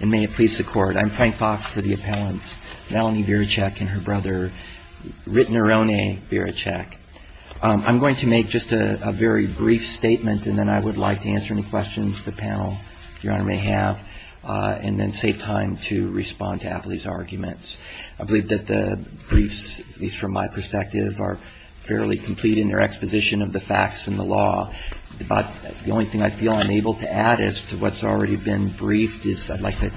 And may it please the Court, I'm Frank Fox for the appellants, Melanie Virachack and her brother, Ritnerone Virachack. I'm going to make just a very brief statement, and then I would like to answer any questions the panel, Your Honor, may have, and then save time to respond to Appley's arguments. I believe that the briefs, at least from my perspective, are fairly complete in their exposition of the facts and the law. But the only thing I feel I'm able to add as to what's already been briefed is I'd like to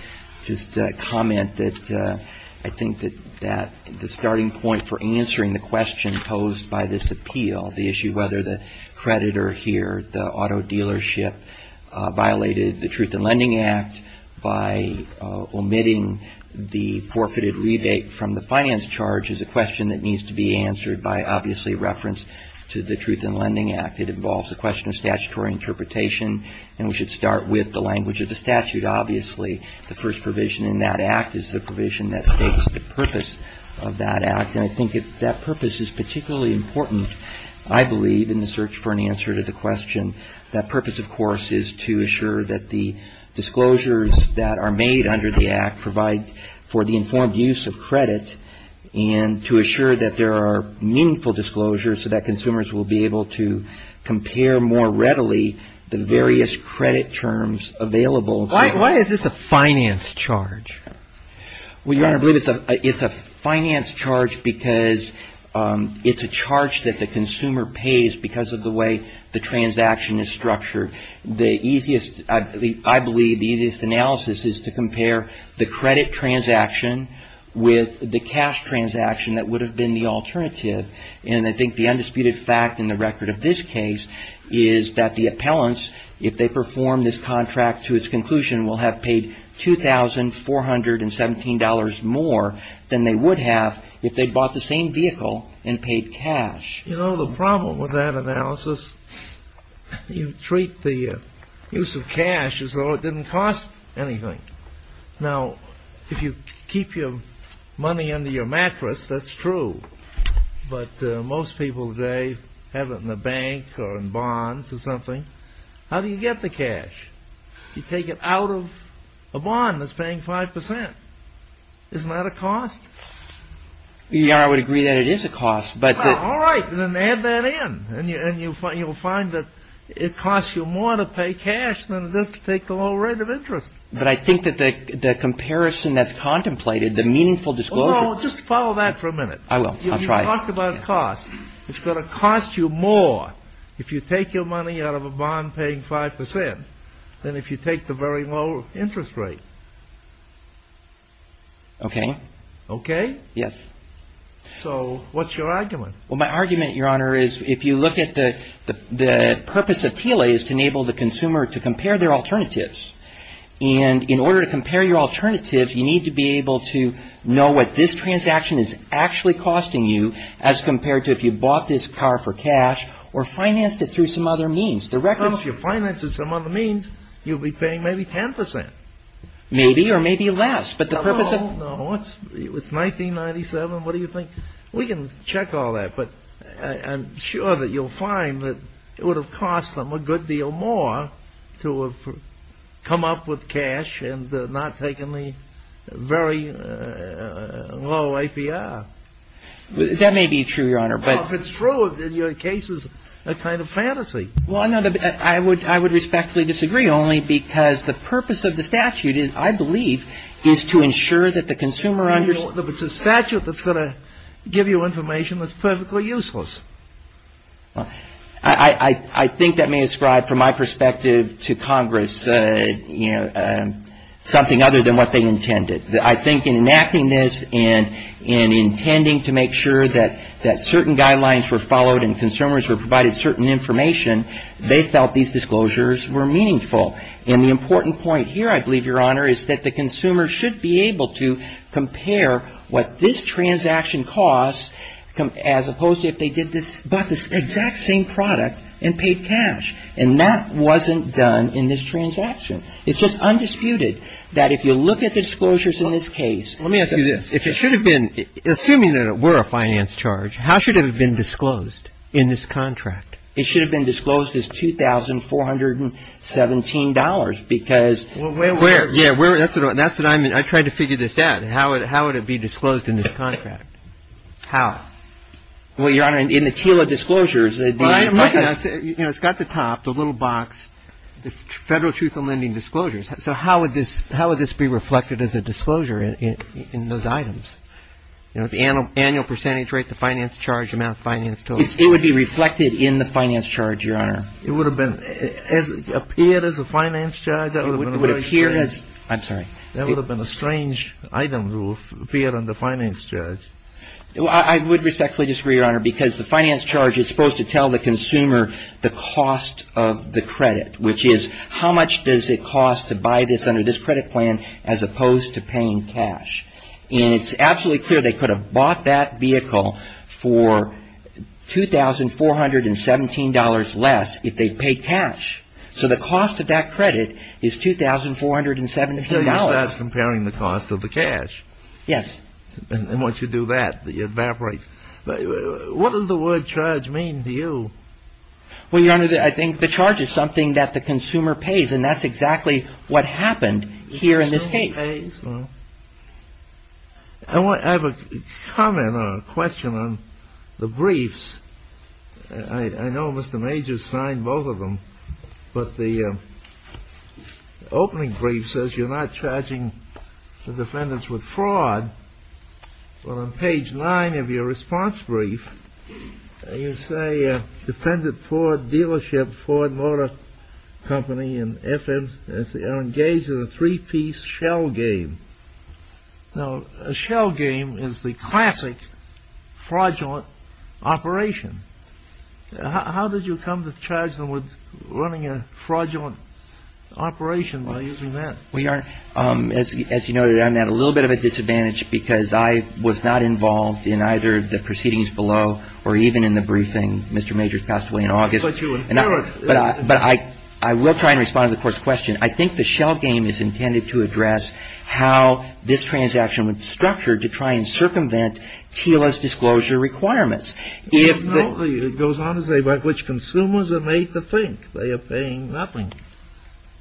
just comment that I think that the starting point for answering the question posed by this appeal, the issue whether the creditor here, the auto dealership, violated the Truth in Lending Act by omitting the forfeited rebate from the finance charge, is a question that needs to be answered by, obviously, reference to the Truth in Lending Act. It involves a question of statutory interpretation, and we should start with the language of the statute. Obviously, the first provision in that act is the provision that states the purpose of that act. And I think that purpose is particularly important, I believe, in the search for an answer to the question. That purpose, of course, is to assure that the disclosures that are made under the act provide for the informed use of credit and to assure that there are meaningful disclosures so that consumers will be able to compare more various credit terms available. Why is this a finance charge? Well, Your Honor, it's a finance charge because it's a charge that the consumer pays because of the way the transaction is structured. The easiest, I believe, the easiest analysis is to compare the credit transaction with the cash transaction that would have been the alternative. And I think the undisputed fact in the record of this case is that the appellants, if they perform this contract to its conclusion, will have paid $2,417 more than they would have if they bought the same vehicle and paid cash. You know, the problem with that analysis, you treat the use of cash as though it didn't cost anything. Now, if you keep your money under your mattress, that's true. But most people today have it in the bank or in bonds or something. How do you get the cash? You take it out of a bond that's paying 5%. Isn't that a cost? Your Honor, I would agree that it is a cost, but the- All right, then add that in. And you'll find that it costs you more to pay cash than it does to take the low rate of interest. the meaningful disclosure- Just follow that for a minute. I will. I'll try. You talked about cost. It's going to cost you more if you take your money out of a bond paying 5% than if you take the very low interest rate. OK. Yes. So what's your argument? Well, my argument, Your Honor, is if you look at the purpose of TLA is to enable the consumer to compare their alternatives. And in order to compare your alternatives, you need to be able to know what this transaction is actually costing you as compared to if you bought this car for cash or financed it through some other means. The record's- Well, if you financed it some other means, you'll be paying maybe 10%. Maybe or maybe less. But the purpose of- No, no. It's 1997. What do you think? We can check all that. But I'm sure that you'll find that it would have cost them a good deal more to have come up with cash and not taken the very low APR. That may be true, Your Honor. If it's true, then your case is a kind of fantasy. Well, I would respectfully disagree, only because the purpose of the statute, I believe, is to ensure that the consumer understands- But it's a statute that's going to give you information that's perfectly useless. I think that may ascribe, from my perspective to Congress, you know, something other than what they intended. I think in enacting this and in intending to make sure that certain guidelines were followed and consumers were provided certain information, they felt these disclosures were meaningful. And the important point here, I believe, Your Honor, is that the consumer should be able to compare what this transaction costs as opposed to if they did this and bought this exact same product and paid cash. And that wasn't done in this transaction. It's just undisputed that if you look at the disclosures in this case- Let me ask you this. If it should have been, assuming that it were a finance charge, how should it have been disclosed in this contract? It should have been disclosed as $2,417 because- Well, where- Yeah, that's what I'm- I tried to figure this out. How would it be disclosed in this contract? How? Well, Your Honor, in the teal of disclosures- Well, I'm looking at- You know, it's got the top, the little box, the Federal Truth in Lending Disclosures. So how would this be reflected as a disclosure in those items? You know, the annual percentage rate, the finance charge amount, finance total. It would be reflected in the finance charge, Your Honor. It would have been- It would appear as a finance charge. It would appear as- I'm sorry. That would have been a strange item rule, appear on the finance charge. I would respectfully disagree, Your Honor, because the finance charge is supposed to tell the consumer the cost of the credit, which is how much does it cost to buy this under this credit plan as opposed to paying cash. And it's absolutely clear they could have bought that vehicle for $2,417 less if they paid cash. So the cost of that credit is $2,417. So you're just comparing the cost of the cash. Yes. And once you do that, it evaporates. What does the word charge mean to you? Well, Your Honor, I think the charge is something that the consumer pays, and that's exactly what happened here in this case. Well, I have a comment or a question on the briefs. I know Mr. Major signed both of them, but the opening brief says you're not charging the defendants with fraud. Well, on page nine of your response brief, you say a defendant Ford dealership, Ford Motor Company, and FM, they're engaged in a three-piece shell game. Now, a shell game is the classic fraudulent operation. How did you come to charge them with running a fraudulent operation by using that? Well, Your Honor, as you noted, I'm at a little bit of a disadvantage because I was not involved in either the proceedings below or even in the briefing. Mr. Major passed away in August. But you inferred. But I will try and respond to the court's question. I think the shell game is intended to address how this transaction was structured to try and circumvent TILA's disclosure requirements. It goes on to say by which consumers are made to think they are paying nothing.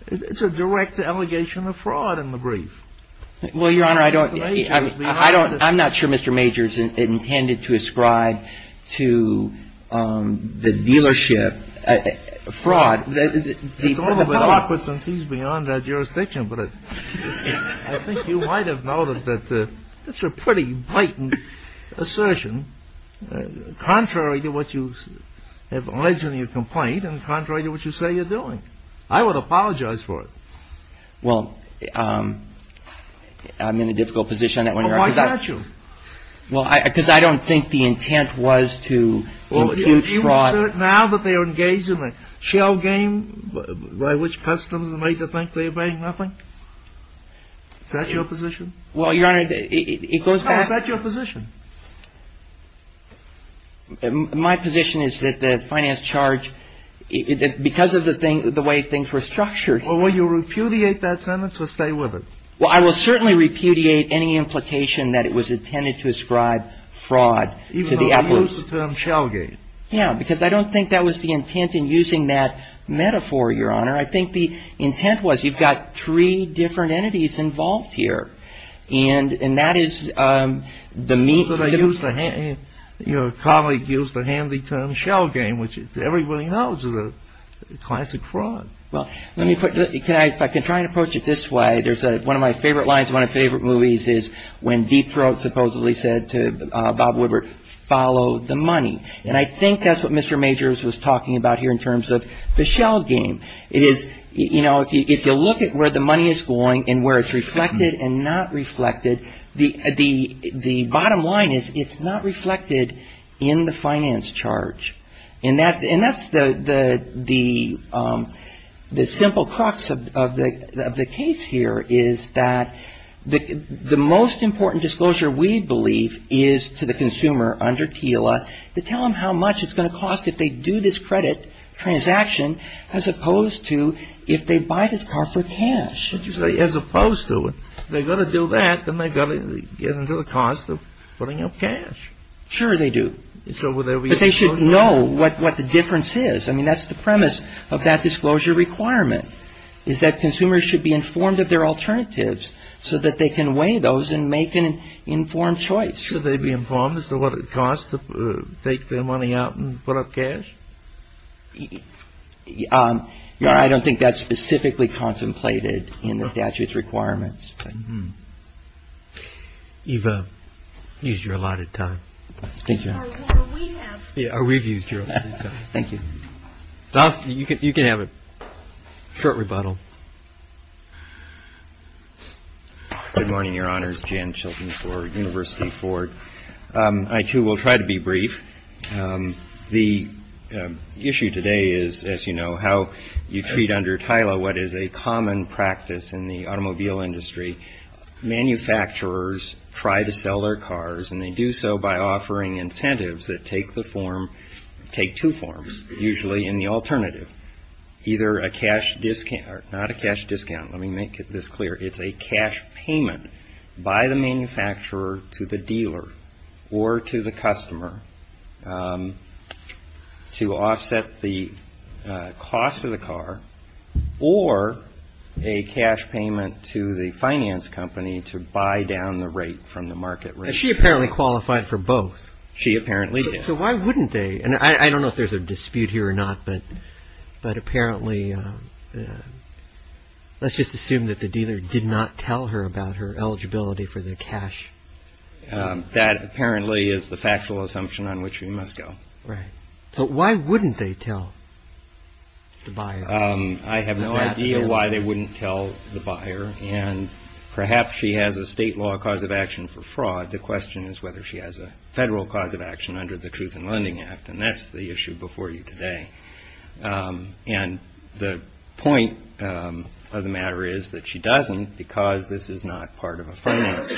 It's a direct allegation of fraud in the brief. Well, Your Honor, I'm not sure Mr. Major's intended to ascribe to the dealership fraud. It's a little bit awkward since he's beyond our jurisdiction, but I think you might have noted that that's a pretty blatant assertion. Contrary to what you have alleged in your complaint and contrary to what you say you're doing. I would apologize for it. Well, I'm in a difficult position. Why can't you? Well, because I don't think the intent was to impute fraud. Now that they are engaged in a shell game by which customers are made to think they are paying nothing. Is that your position? Well, Your Honor, it goes back. My position is that the finance charge, because of the thing, the way things were structured. Well, will you repudiate that sentence or stay with it? Well, I will certainly repudiate any implication that it was intended to ascribe fraud to the appellate. Even though you use the term shell game. Yeah, because I don't think that was the intent in using that metaphor, Your Honor. I think the intent was you've got three different entities involved here. And that is the meat. But I use the hand, you know, a colleague used the handy term shell game, which everybody knows is a classic fraud. Well, let me put, if I can try and approach it this way. There's one of my favorite lines, one of my favorite movies is when Deep Throat supposedly said to Bob Woodward, follow the money. And I think that's what Mr. Majors was talking about here in terms of the shell game. It is, you know, if you look at where the money is going and where it's reflected and not reflected, the bottom line is it's not reflected in the finance charge. And that's the simple crux of the case here is that the most important disclosure we believe is to the consumer under TILA to tell them how much it's going to cost if they do this credit transaction as opposed to if they buy this car for cash. But you say as opposed to it. They've got to do that. Then they've got to get into the cost of putting up cash. Sure, they do. So they should know what the difference is. I mean, that's the premise of that disclosure requirement is that consumers should be informed of their alternatives so that they can weigh those and make an informed choice. Should they be informed as to what it costs to take their money out and put up cash? I don't think that's specifically contemplated in the statute's requirements. Eva, you've used your allotted time. We've used your. Thank you. You can have a short rebuttal. Good morning, Your Honors. Jan Chilton for University for I, too, will try to be brief. The issue today is, as you know, how you treat under TILA what is a common practice in the automobile industry. Manufacturers try to sell their cars, and they do so by offering incentives that take the form, take two forms, usually in the alternative, either a cash discount, not a cash discount. Let me make this clear. It's a cash payment by the manufacturer to the dealer or to the customer to offset the cost of the car or a cash payment to the finance company to buy down the rate from the market. She apparently qualified for both. She apparently did. So why wouldn't they? And I don't know if there's a dispute here or not, but but apparently let's just assume that the dealer did not tell her about her eligibility for the cash. That apparently is the factual assumption on which we must go. Right. So why wouldn't they tell the buyer? I have no idea why they wouldn't tell the buyer. And perhaps she has a state law cause of action for fraud. The question is whether she has a federal cause of action under the Truth in Lending Act. And that's the issue before you today. And the point of the matter is that she doesn't because this is not part of a finance.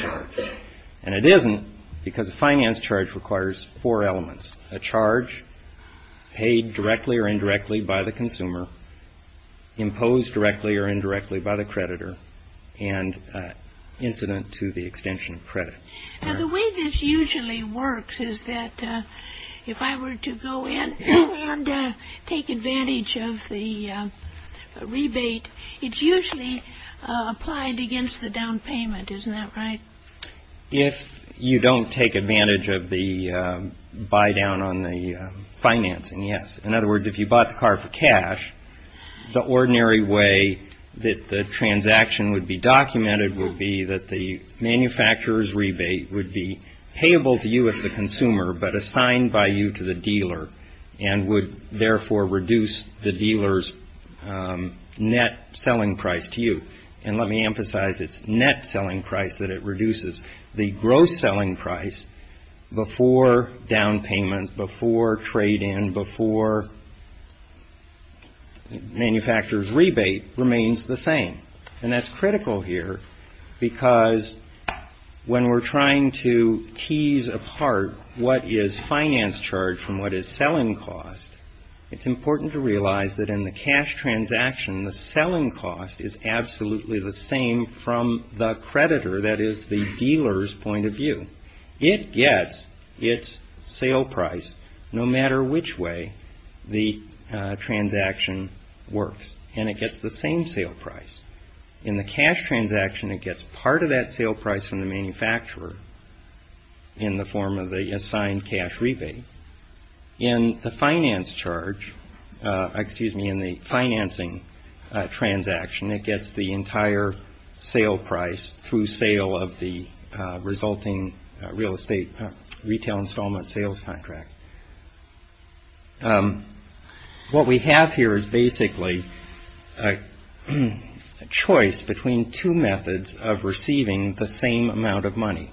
And it isn't because the finance charge requires four elements, a charge paid directly or indirectly by the consumer. Imposed directly or indirectly by the creditor and incident to the extension of credit. So the way this usually works is that if I were to go in and take advantage of the rebate, it's usually applied against the down payment. Isn't that right? If you don't take advantage of the buy down on the financing. Yes. In other words, if you bought the car for cash, the ordinary way that the transaction would be documented would be that the manufacturers rebate would be payable to you as the consumer, but assigned by you to the dealer and would therefore reduce the dealer's net selling price to you. And let me emphasize its net selling price that it reduces. The gross selling price before down payment, before trade in, before manufacturers rebate remains the same. And that's critical here because when we're trying to tease apart what is finance charge from what is selling cost, it's important to realize that in the cash transaction, the selling cost is absolutely the same from the creditor. That is the dealer's point of view. It gets its sale price no matter which way the transaction works and it gets the same sale price. In the cash transaction, it gets part of that sale price from the manufacturer in the form of the assigned cash rebate. In the finance charge, excuse me, in the financing transaction, it gets the entire sale price through sale of the resulting real estate retail installment sales contract. What we have here is basically a choice between two methods of receiving the same amount of money.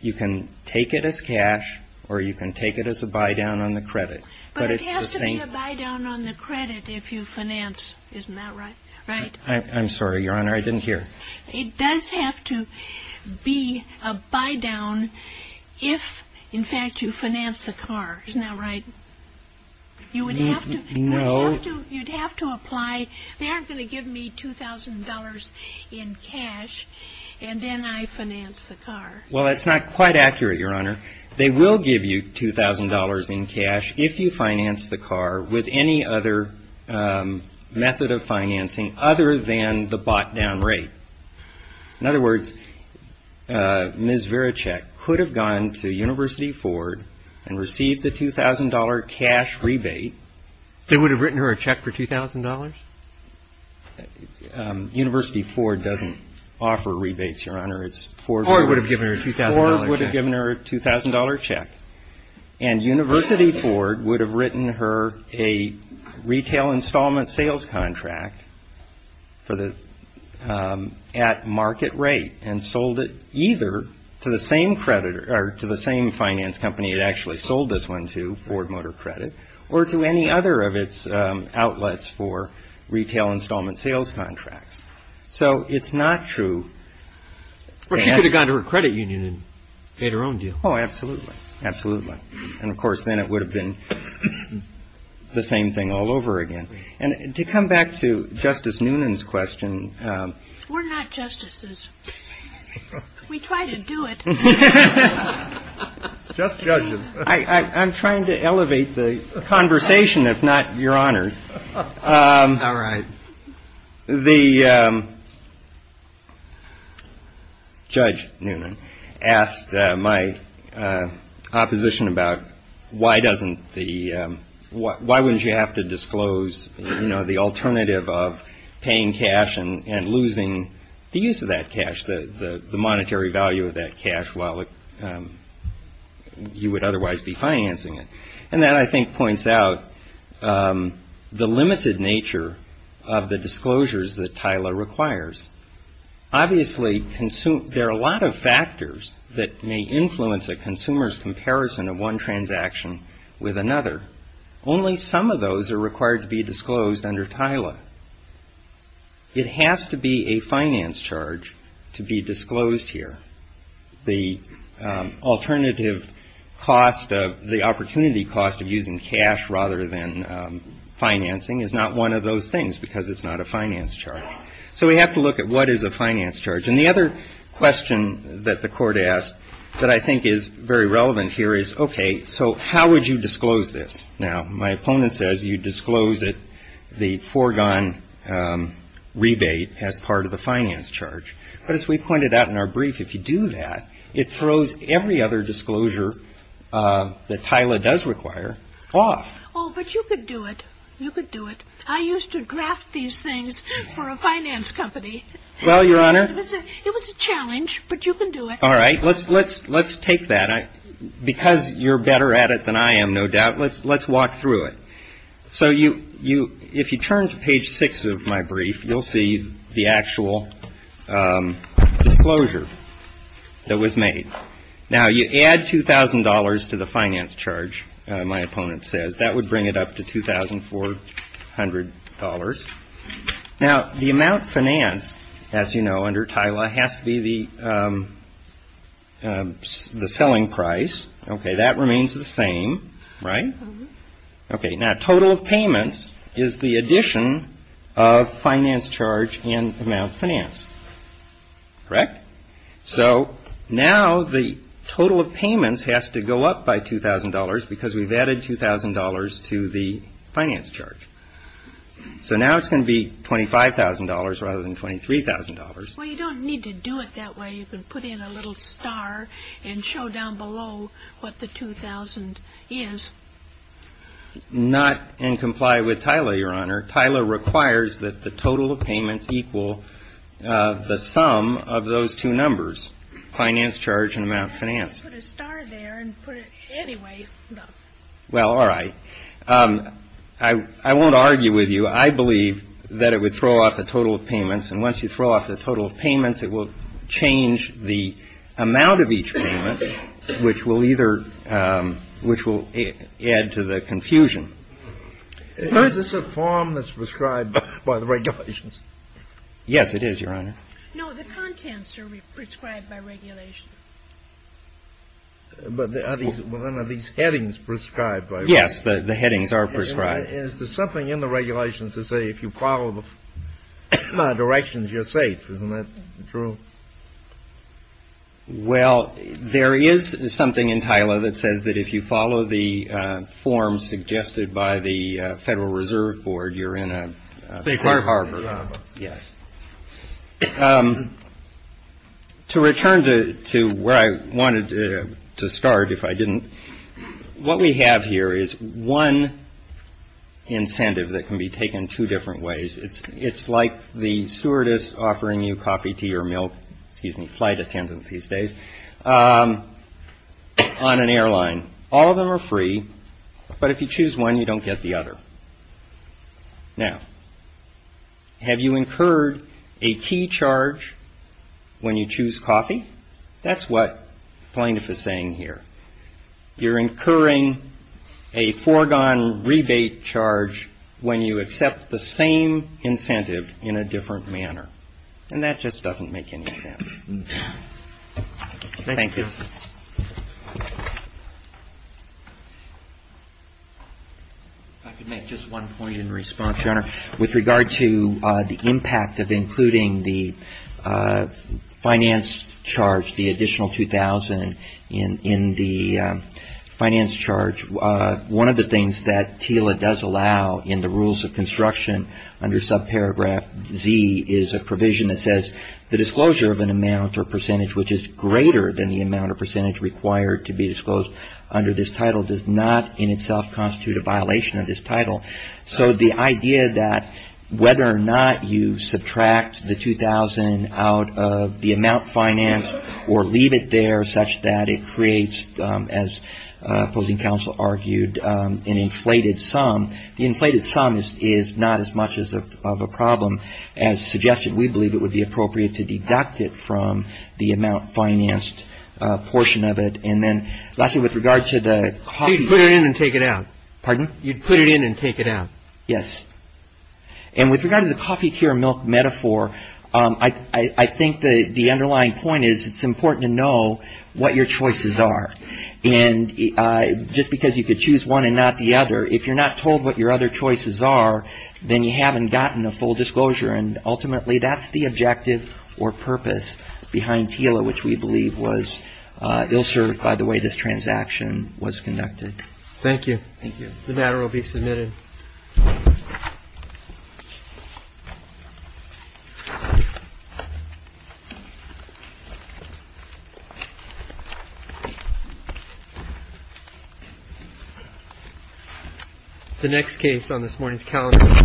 You can take it as cash or you can take it as a buy down on the credit. But it has to be a buy down on the credit if you finance. Isn't that right? Right. I'm sorry, Your Honor. I didn't hear. It does have to be a buy down if, in fact, you finance the car. Isn't that right? You would have to apply. They aren't going to give me $2,000 in cash and then I finance the car. Well, that's not quite accurate, Your Honor. They will give you $2,000 in cash if you finance the car with any other method of financing other than the bought down rate. In other words, Ms. Virachek could have gone to University Ford and received the $2,000 cash rebate. They would have written her a check for $2,000. University Ford doesn't offer rebates, Your Honor. It's Ford. Ford would have given her a $2,000 check. Ford would have given her a $2,000 check. And University Ford would have written her a retail installment sales contract at market rate and sold it either to the same finance company it actually sold this one to, Ford Motor Credit, or to any other of its outlets for retail installment sales contracts. So it's not true. Well, she could have gone to her credit union and paid her own due. Oh, absolutely. Absolutely. And, of course, then it would have been the same thing all over again. And to come back to Justice Noonan's question. We're not justices. We try to do it. Just judges. I'm trying to elevate the conversation, if not Your Honors. All right. The Judge Noonan asked my opposition about why wouldn't you have to disclose the alternative of paying cash and losing the use of that cash, the monetary value of that cash while you would otherwise be financing it. And that, I think, points out the limited nature of the disclosures that TILA requires. Obviously, there are a lot of factors that may influence a consumer's comparison of one transaction with another. Only some of those are required to be disclosed under TILA. It has to be a finance charge to be disclosed here. The alternative cost of the opportunity cost of using cash rather than financing is not one of those things because it's not a finance charge. So we have to look at what is a finance charge. And the other question that the Court asked that I think is very relevant here is, OK, so how would you disclose this? Now, my opponent says you disclose it, the foregone rebate, as part of the finance charge. But as we pointed out in our brief, if you do that, it throws every other disclosure that TILA does require off. Oh, but you could do it. You could do it. I used to draft these things for a finance company. Well, Your Honor. It was a challenge, but you can do it. All right. Let's let's let's take that. Because you're better at it than I am, no doubt. Let's let's walk through it. So you you if you turn to page six of my brief, you'll see the actual disclosure that was made. Now, you add two thousand dollars to the finance charge. My opponent says that would bring it up to two thousand four hundred dollars. Now, the amount financed, as you know, under TILA has to be the selling price. OK, that remains the same, right? OK. Now, total of payments is the addition of finance charge and amount finance. Correct. So now the total of payments has to go up by two thousand dollars because we've added two thousand dollars to the finance charge. So now it's going to be twenty five thousand dollars rather than twenty three thousand dollars. Well, you don't need to do it that way. You can put in a little star and show down below what the two thousand is. Not and comply with TILA, Your Honor. TILA requires that the total of payments equal the sum of those two numbers, finance charge and amount finance. Put a star there and put it anyway. Well, all right. I won't argue with you. I'm not going to argue with you, Your Honor, but I'm not going to argue with you that the total of payments is the sum of those two numbers, finance and once you throw off the total of payments, it will change the amount of each payment, which will either which will add to the confusion. Is this a form that's prescribed by the regulations? Yes, it is, Your Honor. No, the contents are prescribed by regulation. But then are these headings prescribed? Yes, the headings are prescribed. Is there something in the regulations to say if you follow the directions, you're safe? Isn't that true? Well, there is something in TILA that says that if you follow the forms suggested by the Federal Reserve Board, you're in a safe harbor. Yes. To return to where I wanted to start, if I didn't, what we have here is one incentive that can be taken two different ways. It's it's like the stewardess offering you coffee, tea or milk, excuse me, flight attendant these days on an airline. All of them are free. But if you choose one, you don't get the other. Now, have you incurred a tea charge when you choose coffee? That's what plaintiff is saying here. You're incurring a foregone rebate charge when you accept the same incentive in a different manner. And that just doesn't make any sense. Thank you. I could make just one point in response, Your Honor. With regard to the impact of including the finance charge, the additional two thousand in the finance charge. One of the things that TILA does allow in the rules of construction under subparagraph Z is a provision that says the disclosure of an amount or percentage which is greater than the amount of percentage required to be disclosed under this title does not in itself constitute a violation of this title. So the idea that whether or not you subtract the two thousand out of the amount financed or leave it there such that it creates, as opposing counsel argued, an inflated sum, the inflated sum is not as much of a problem as suggested. We believe it would be appropriate to deduct it from the amount financed portion of it. And then lastly, with regard to the coffee. You'd put it in and take it out. Pardon? You'd put it in and take it out. Yes. And with regard to the coffee, tea or milk metaphor, I think the underlying point is it's important to know what your choices are. And just because you could choose one and not the other, if you're not told what your other choices are, then you haven't gotten a full disclosure. And ultimately, that's the objective or purpose behind TILA, which we believe was ill-served by the way this transaction was conducted. Thank you. Thank you. The matter will be submitted. The next case on this morning's calendar.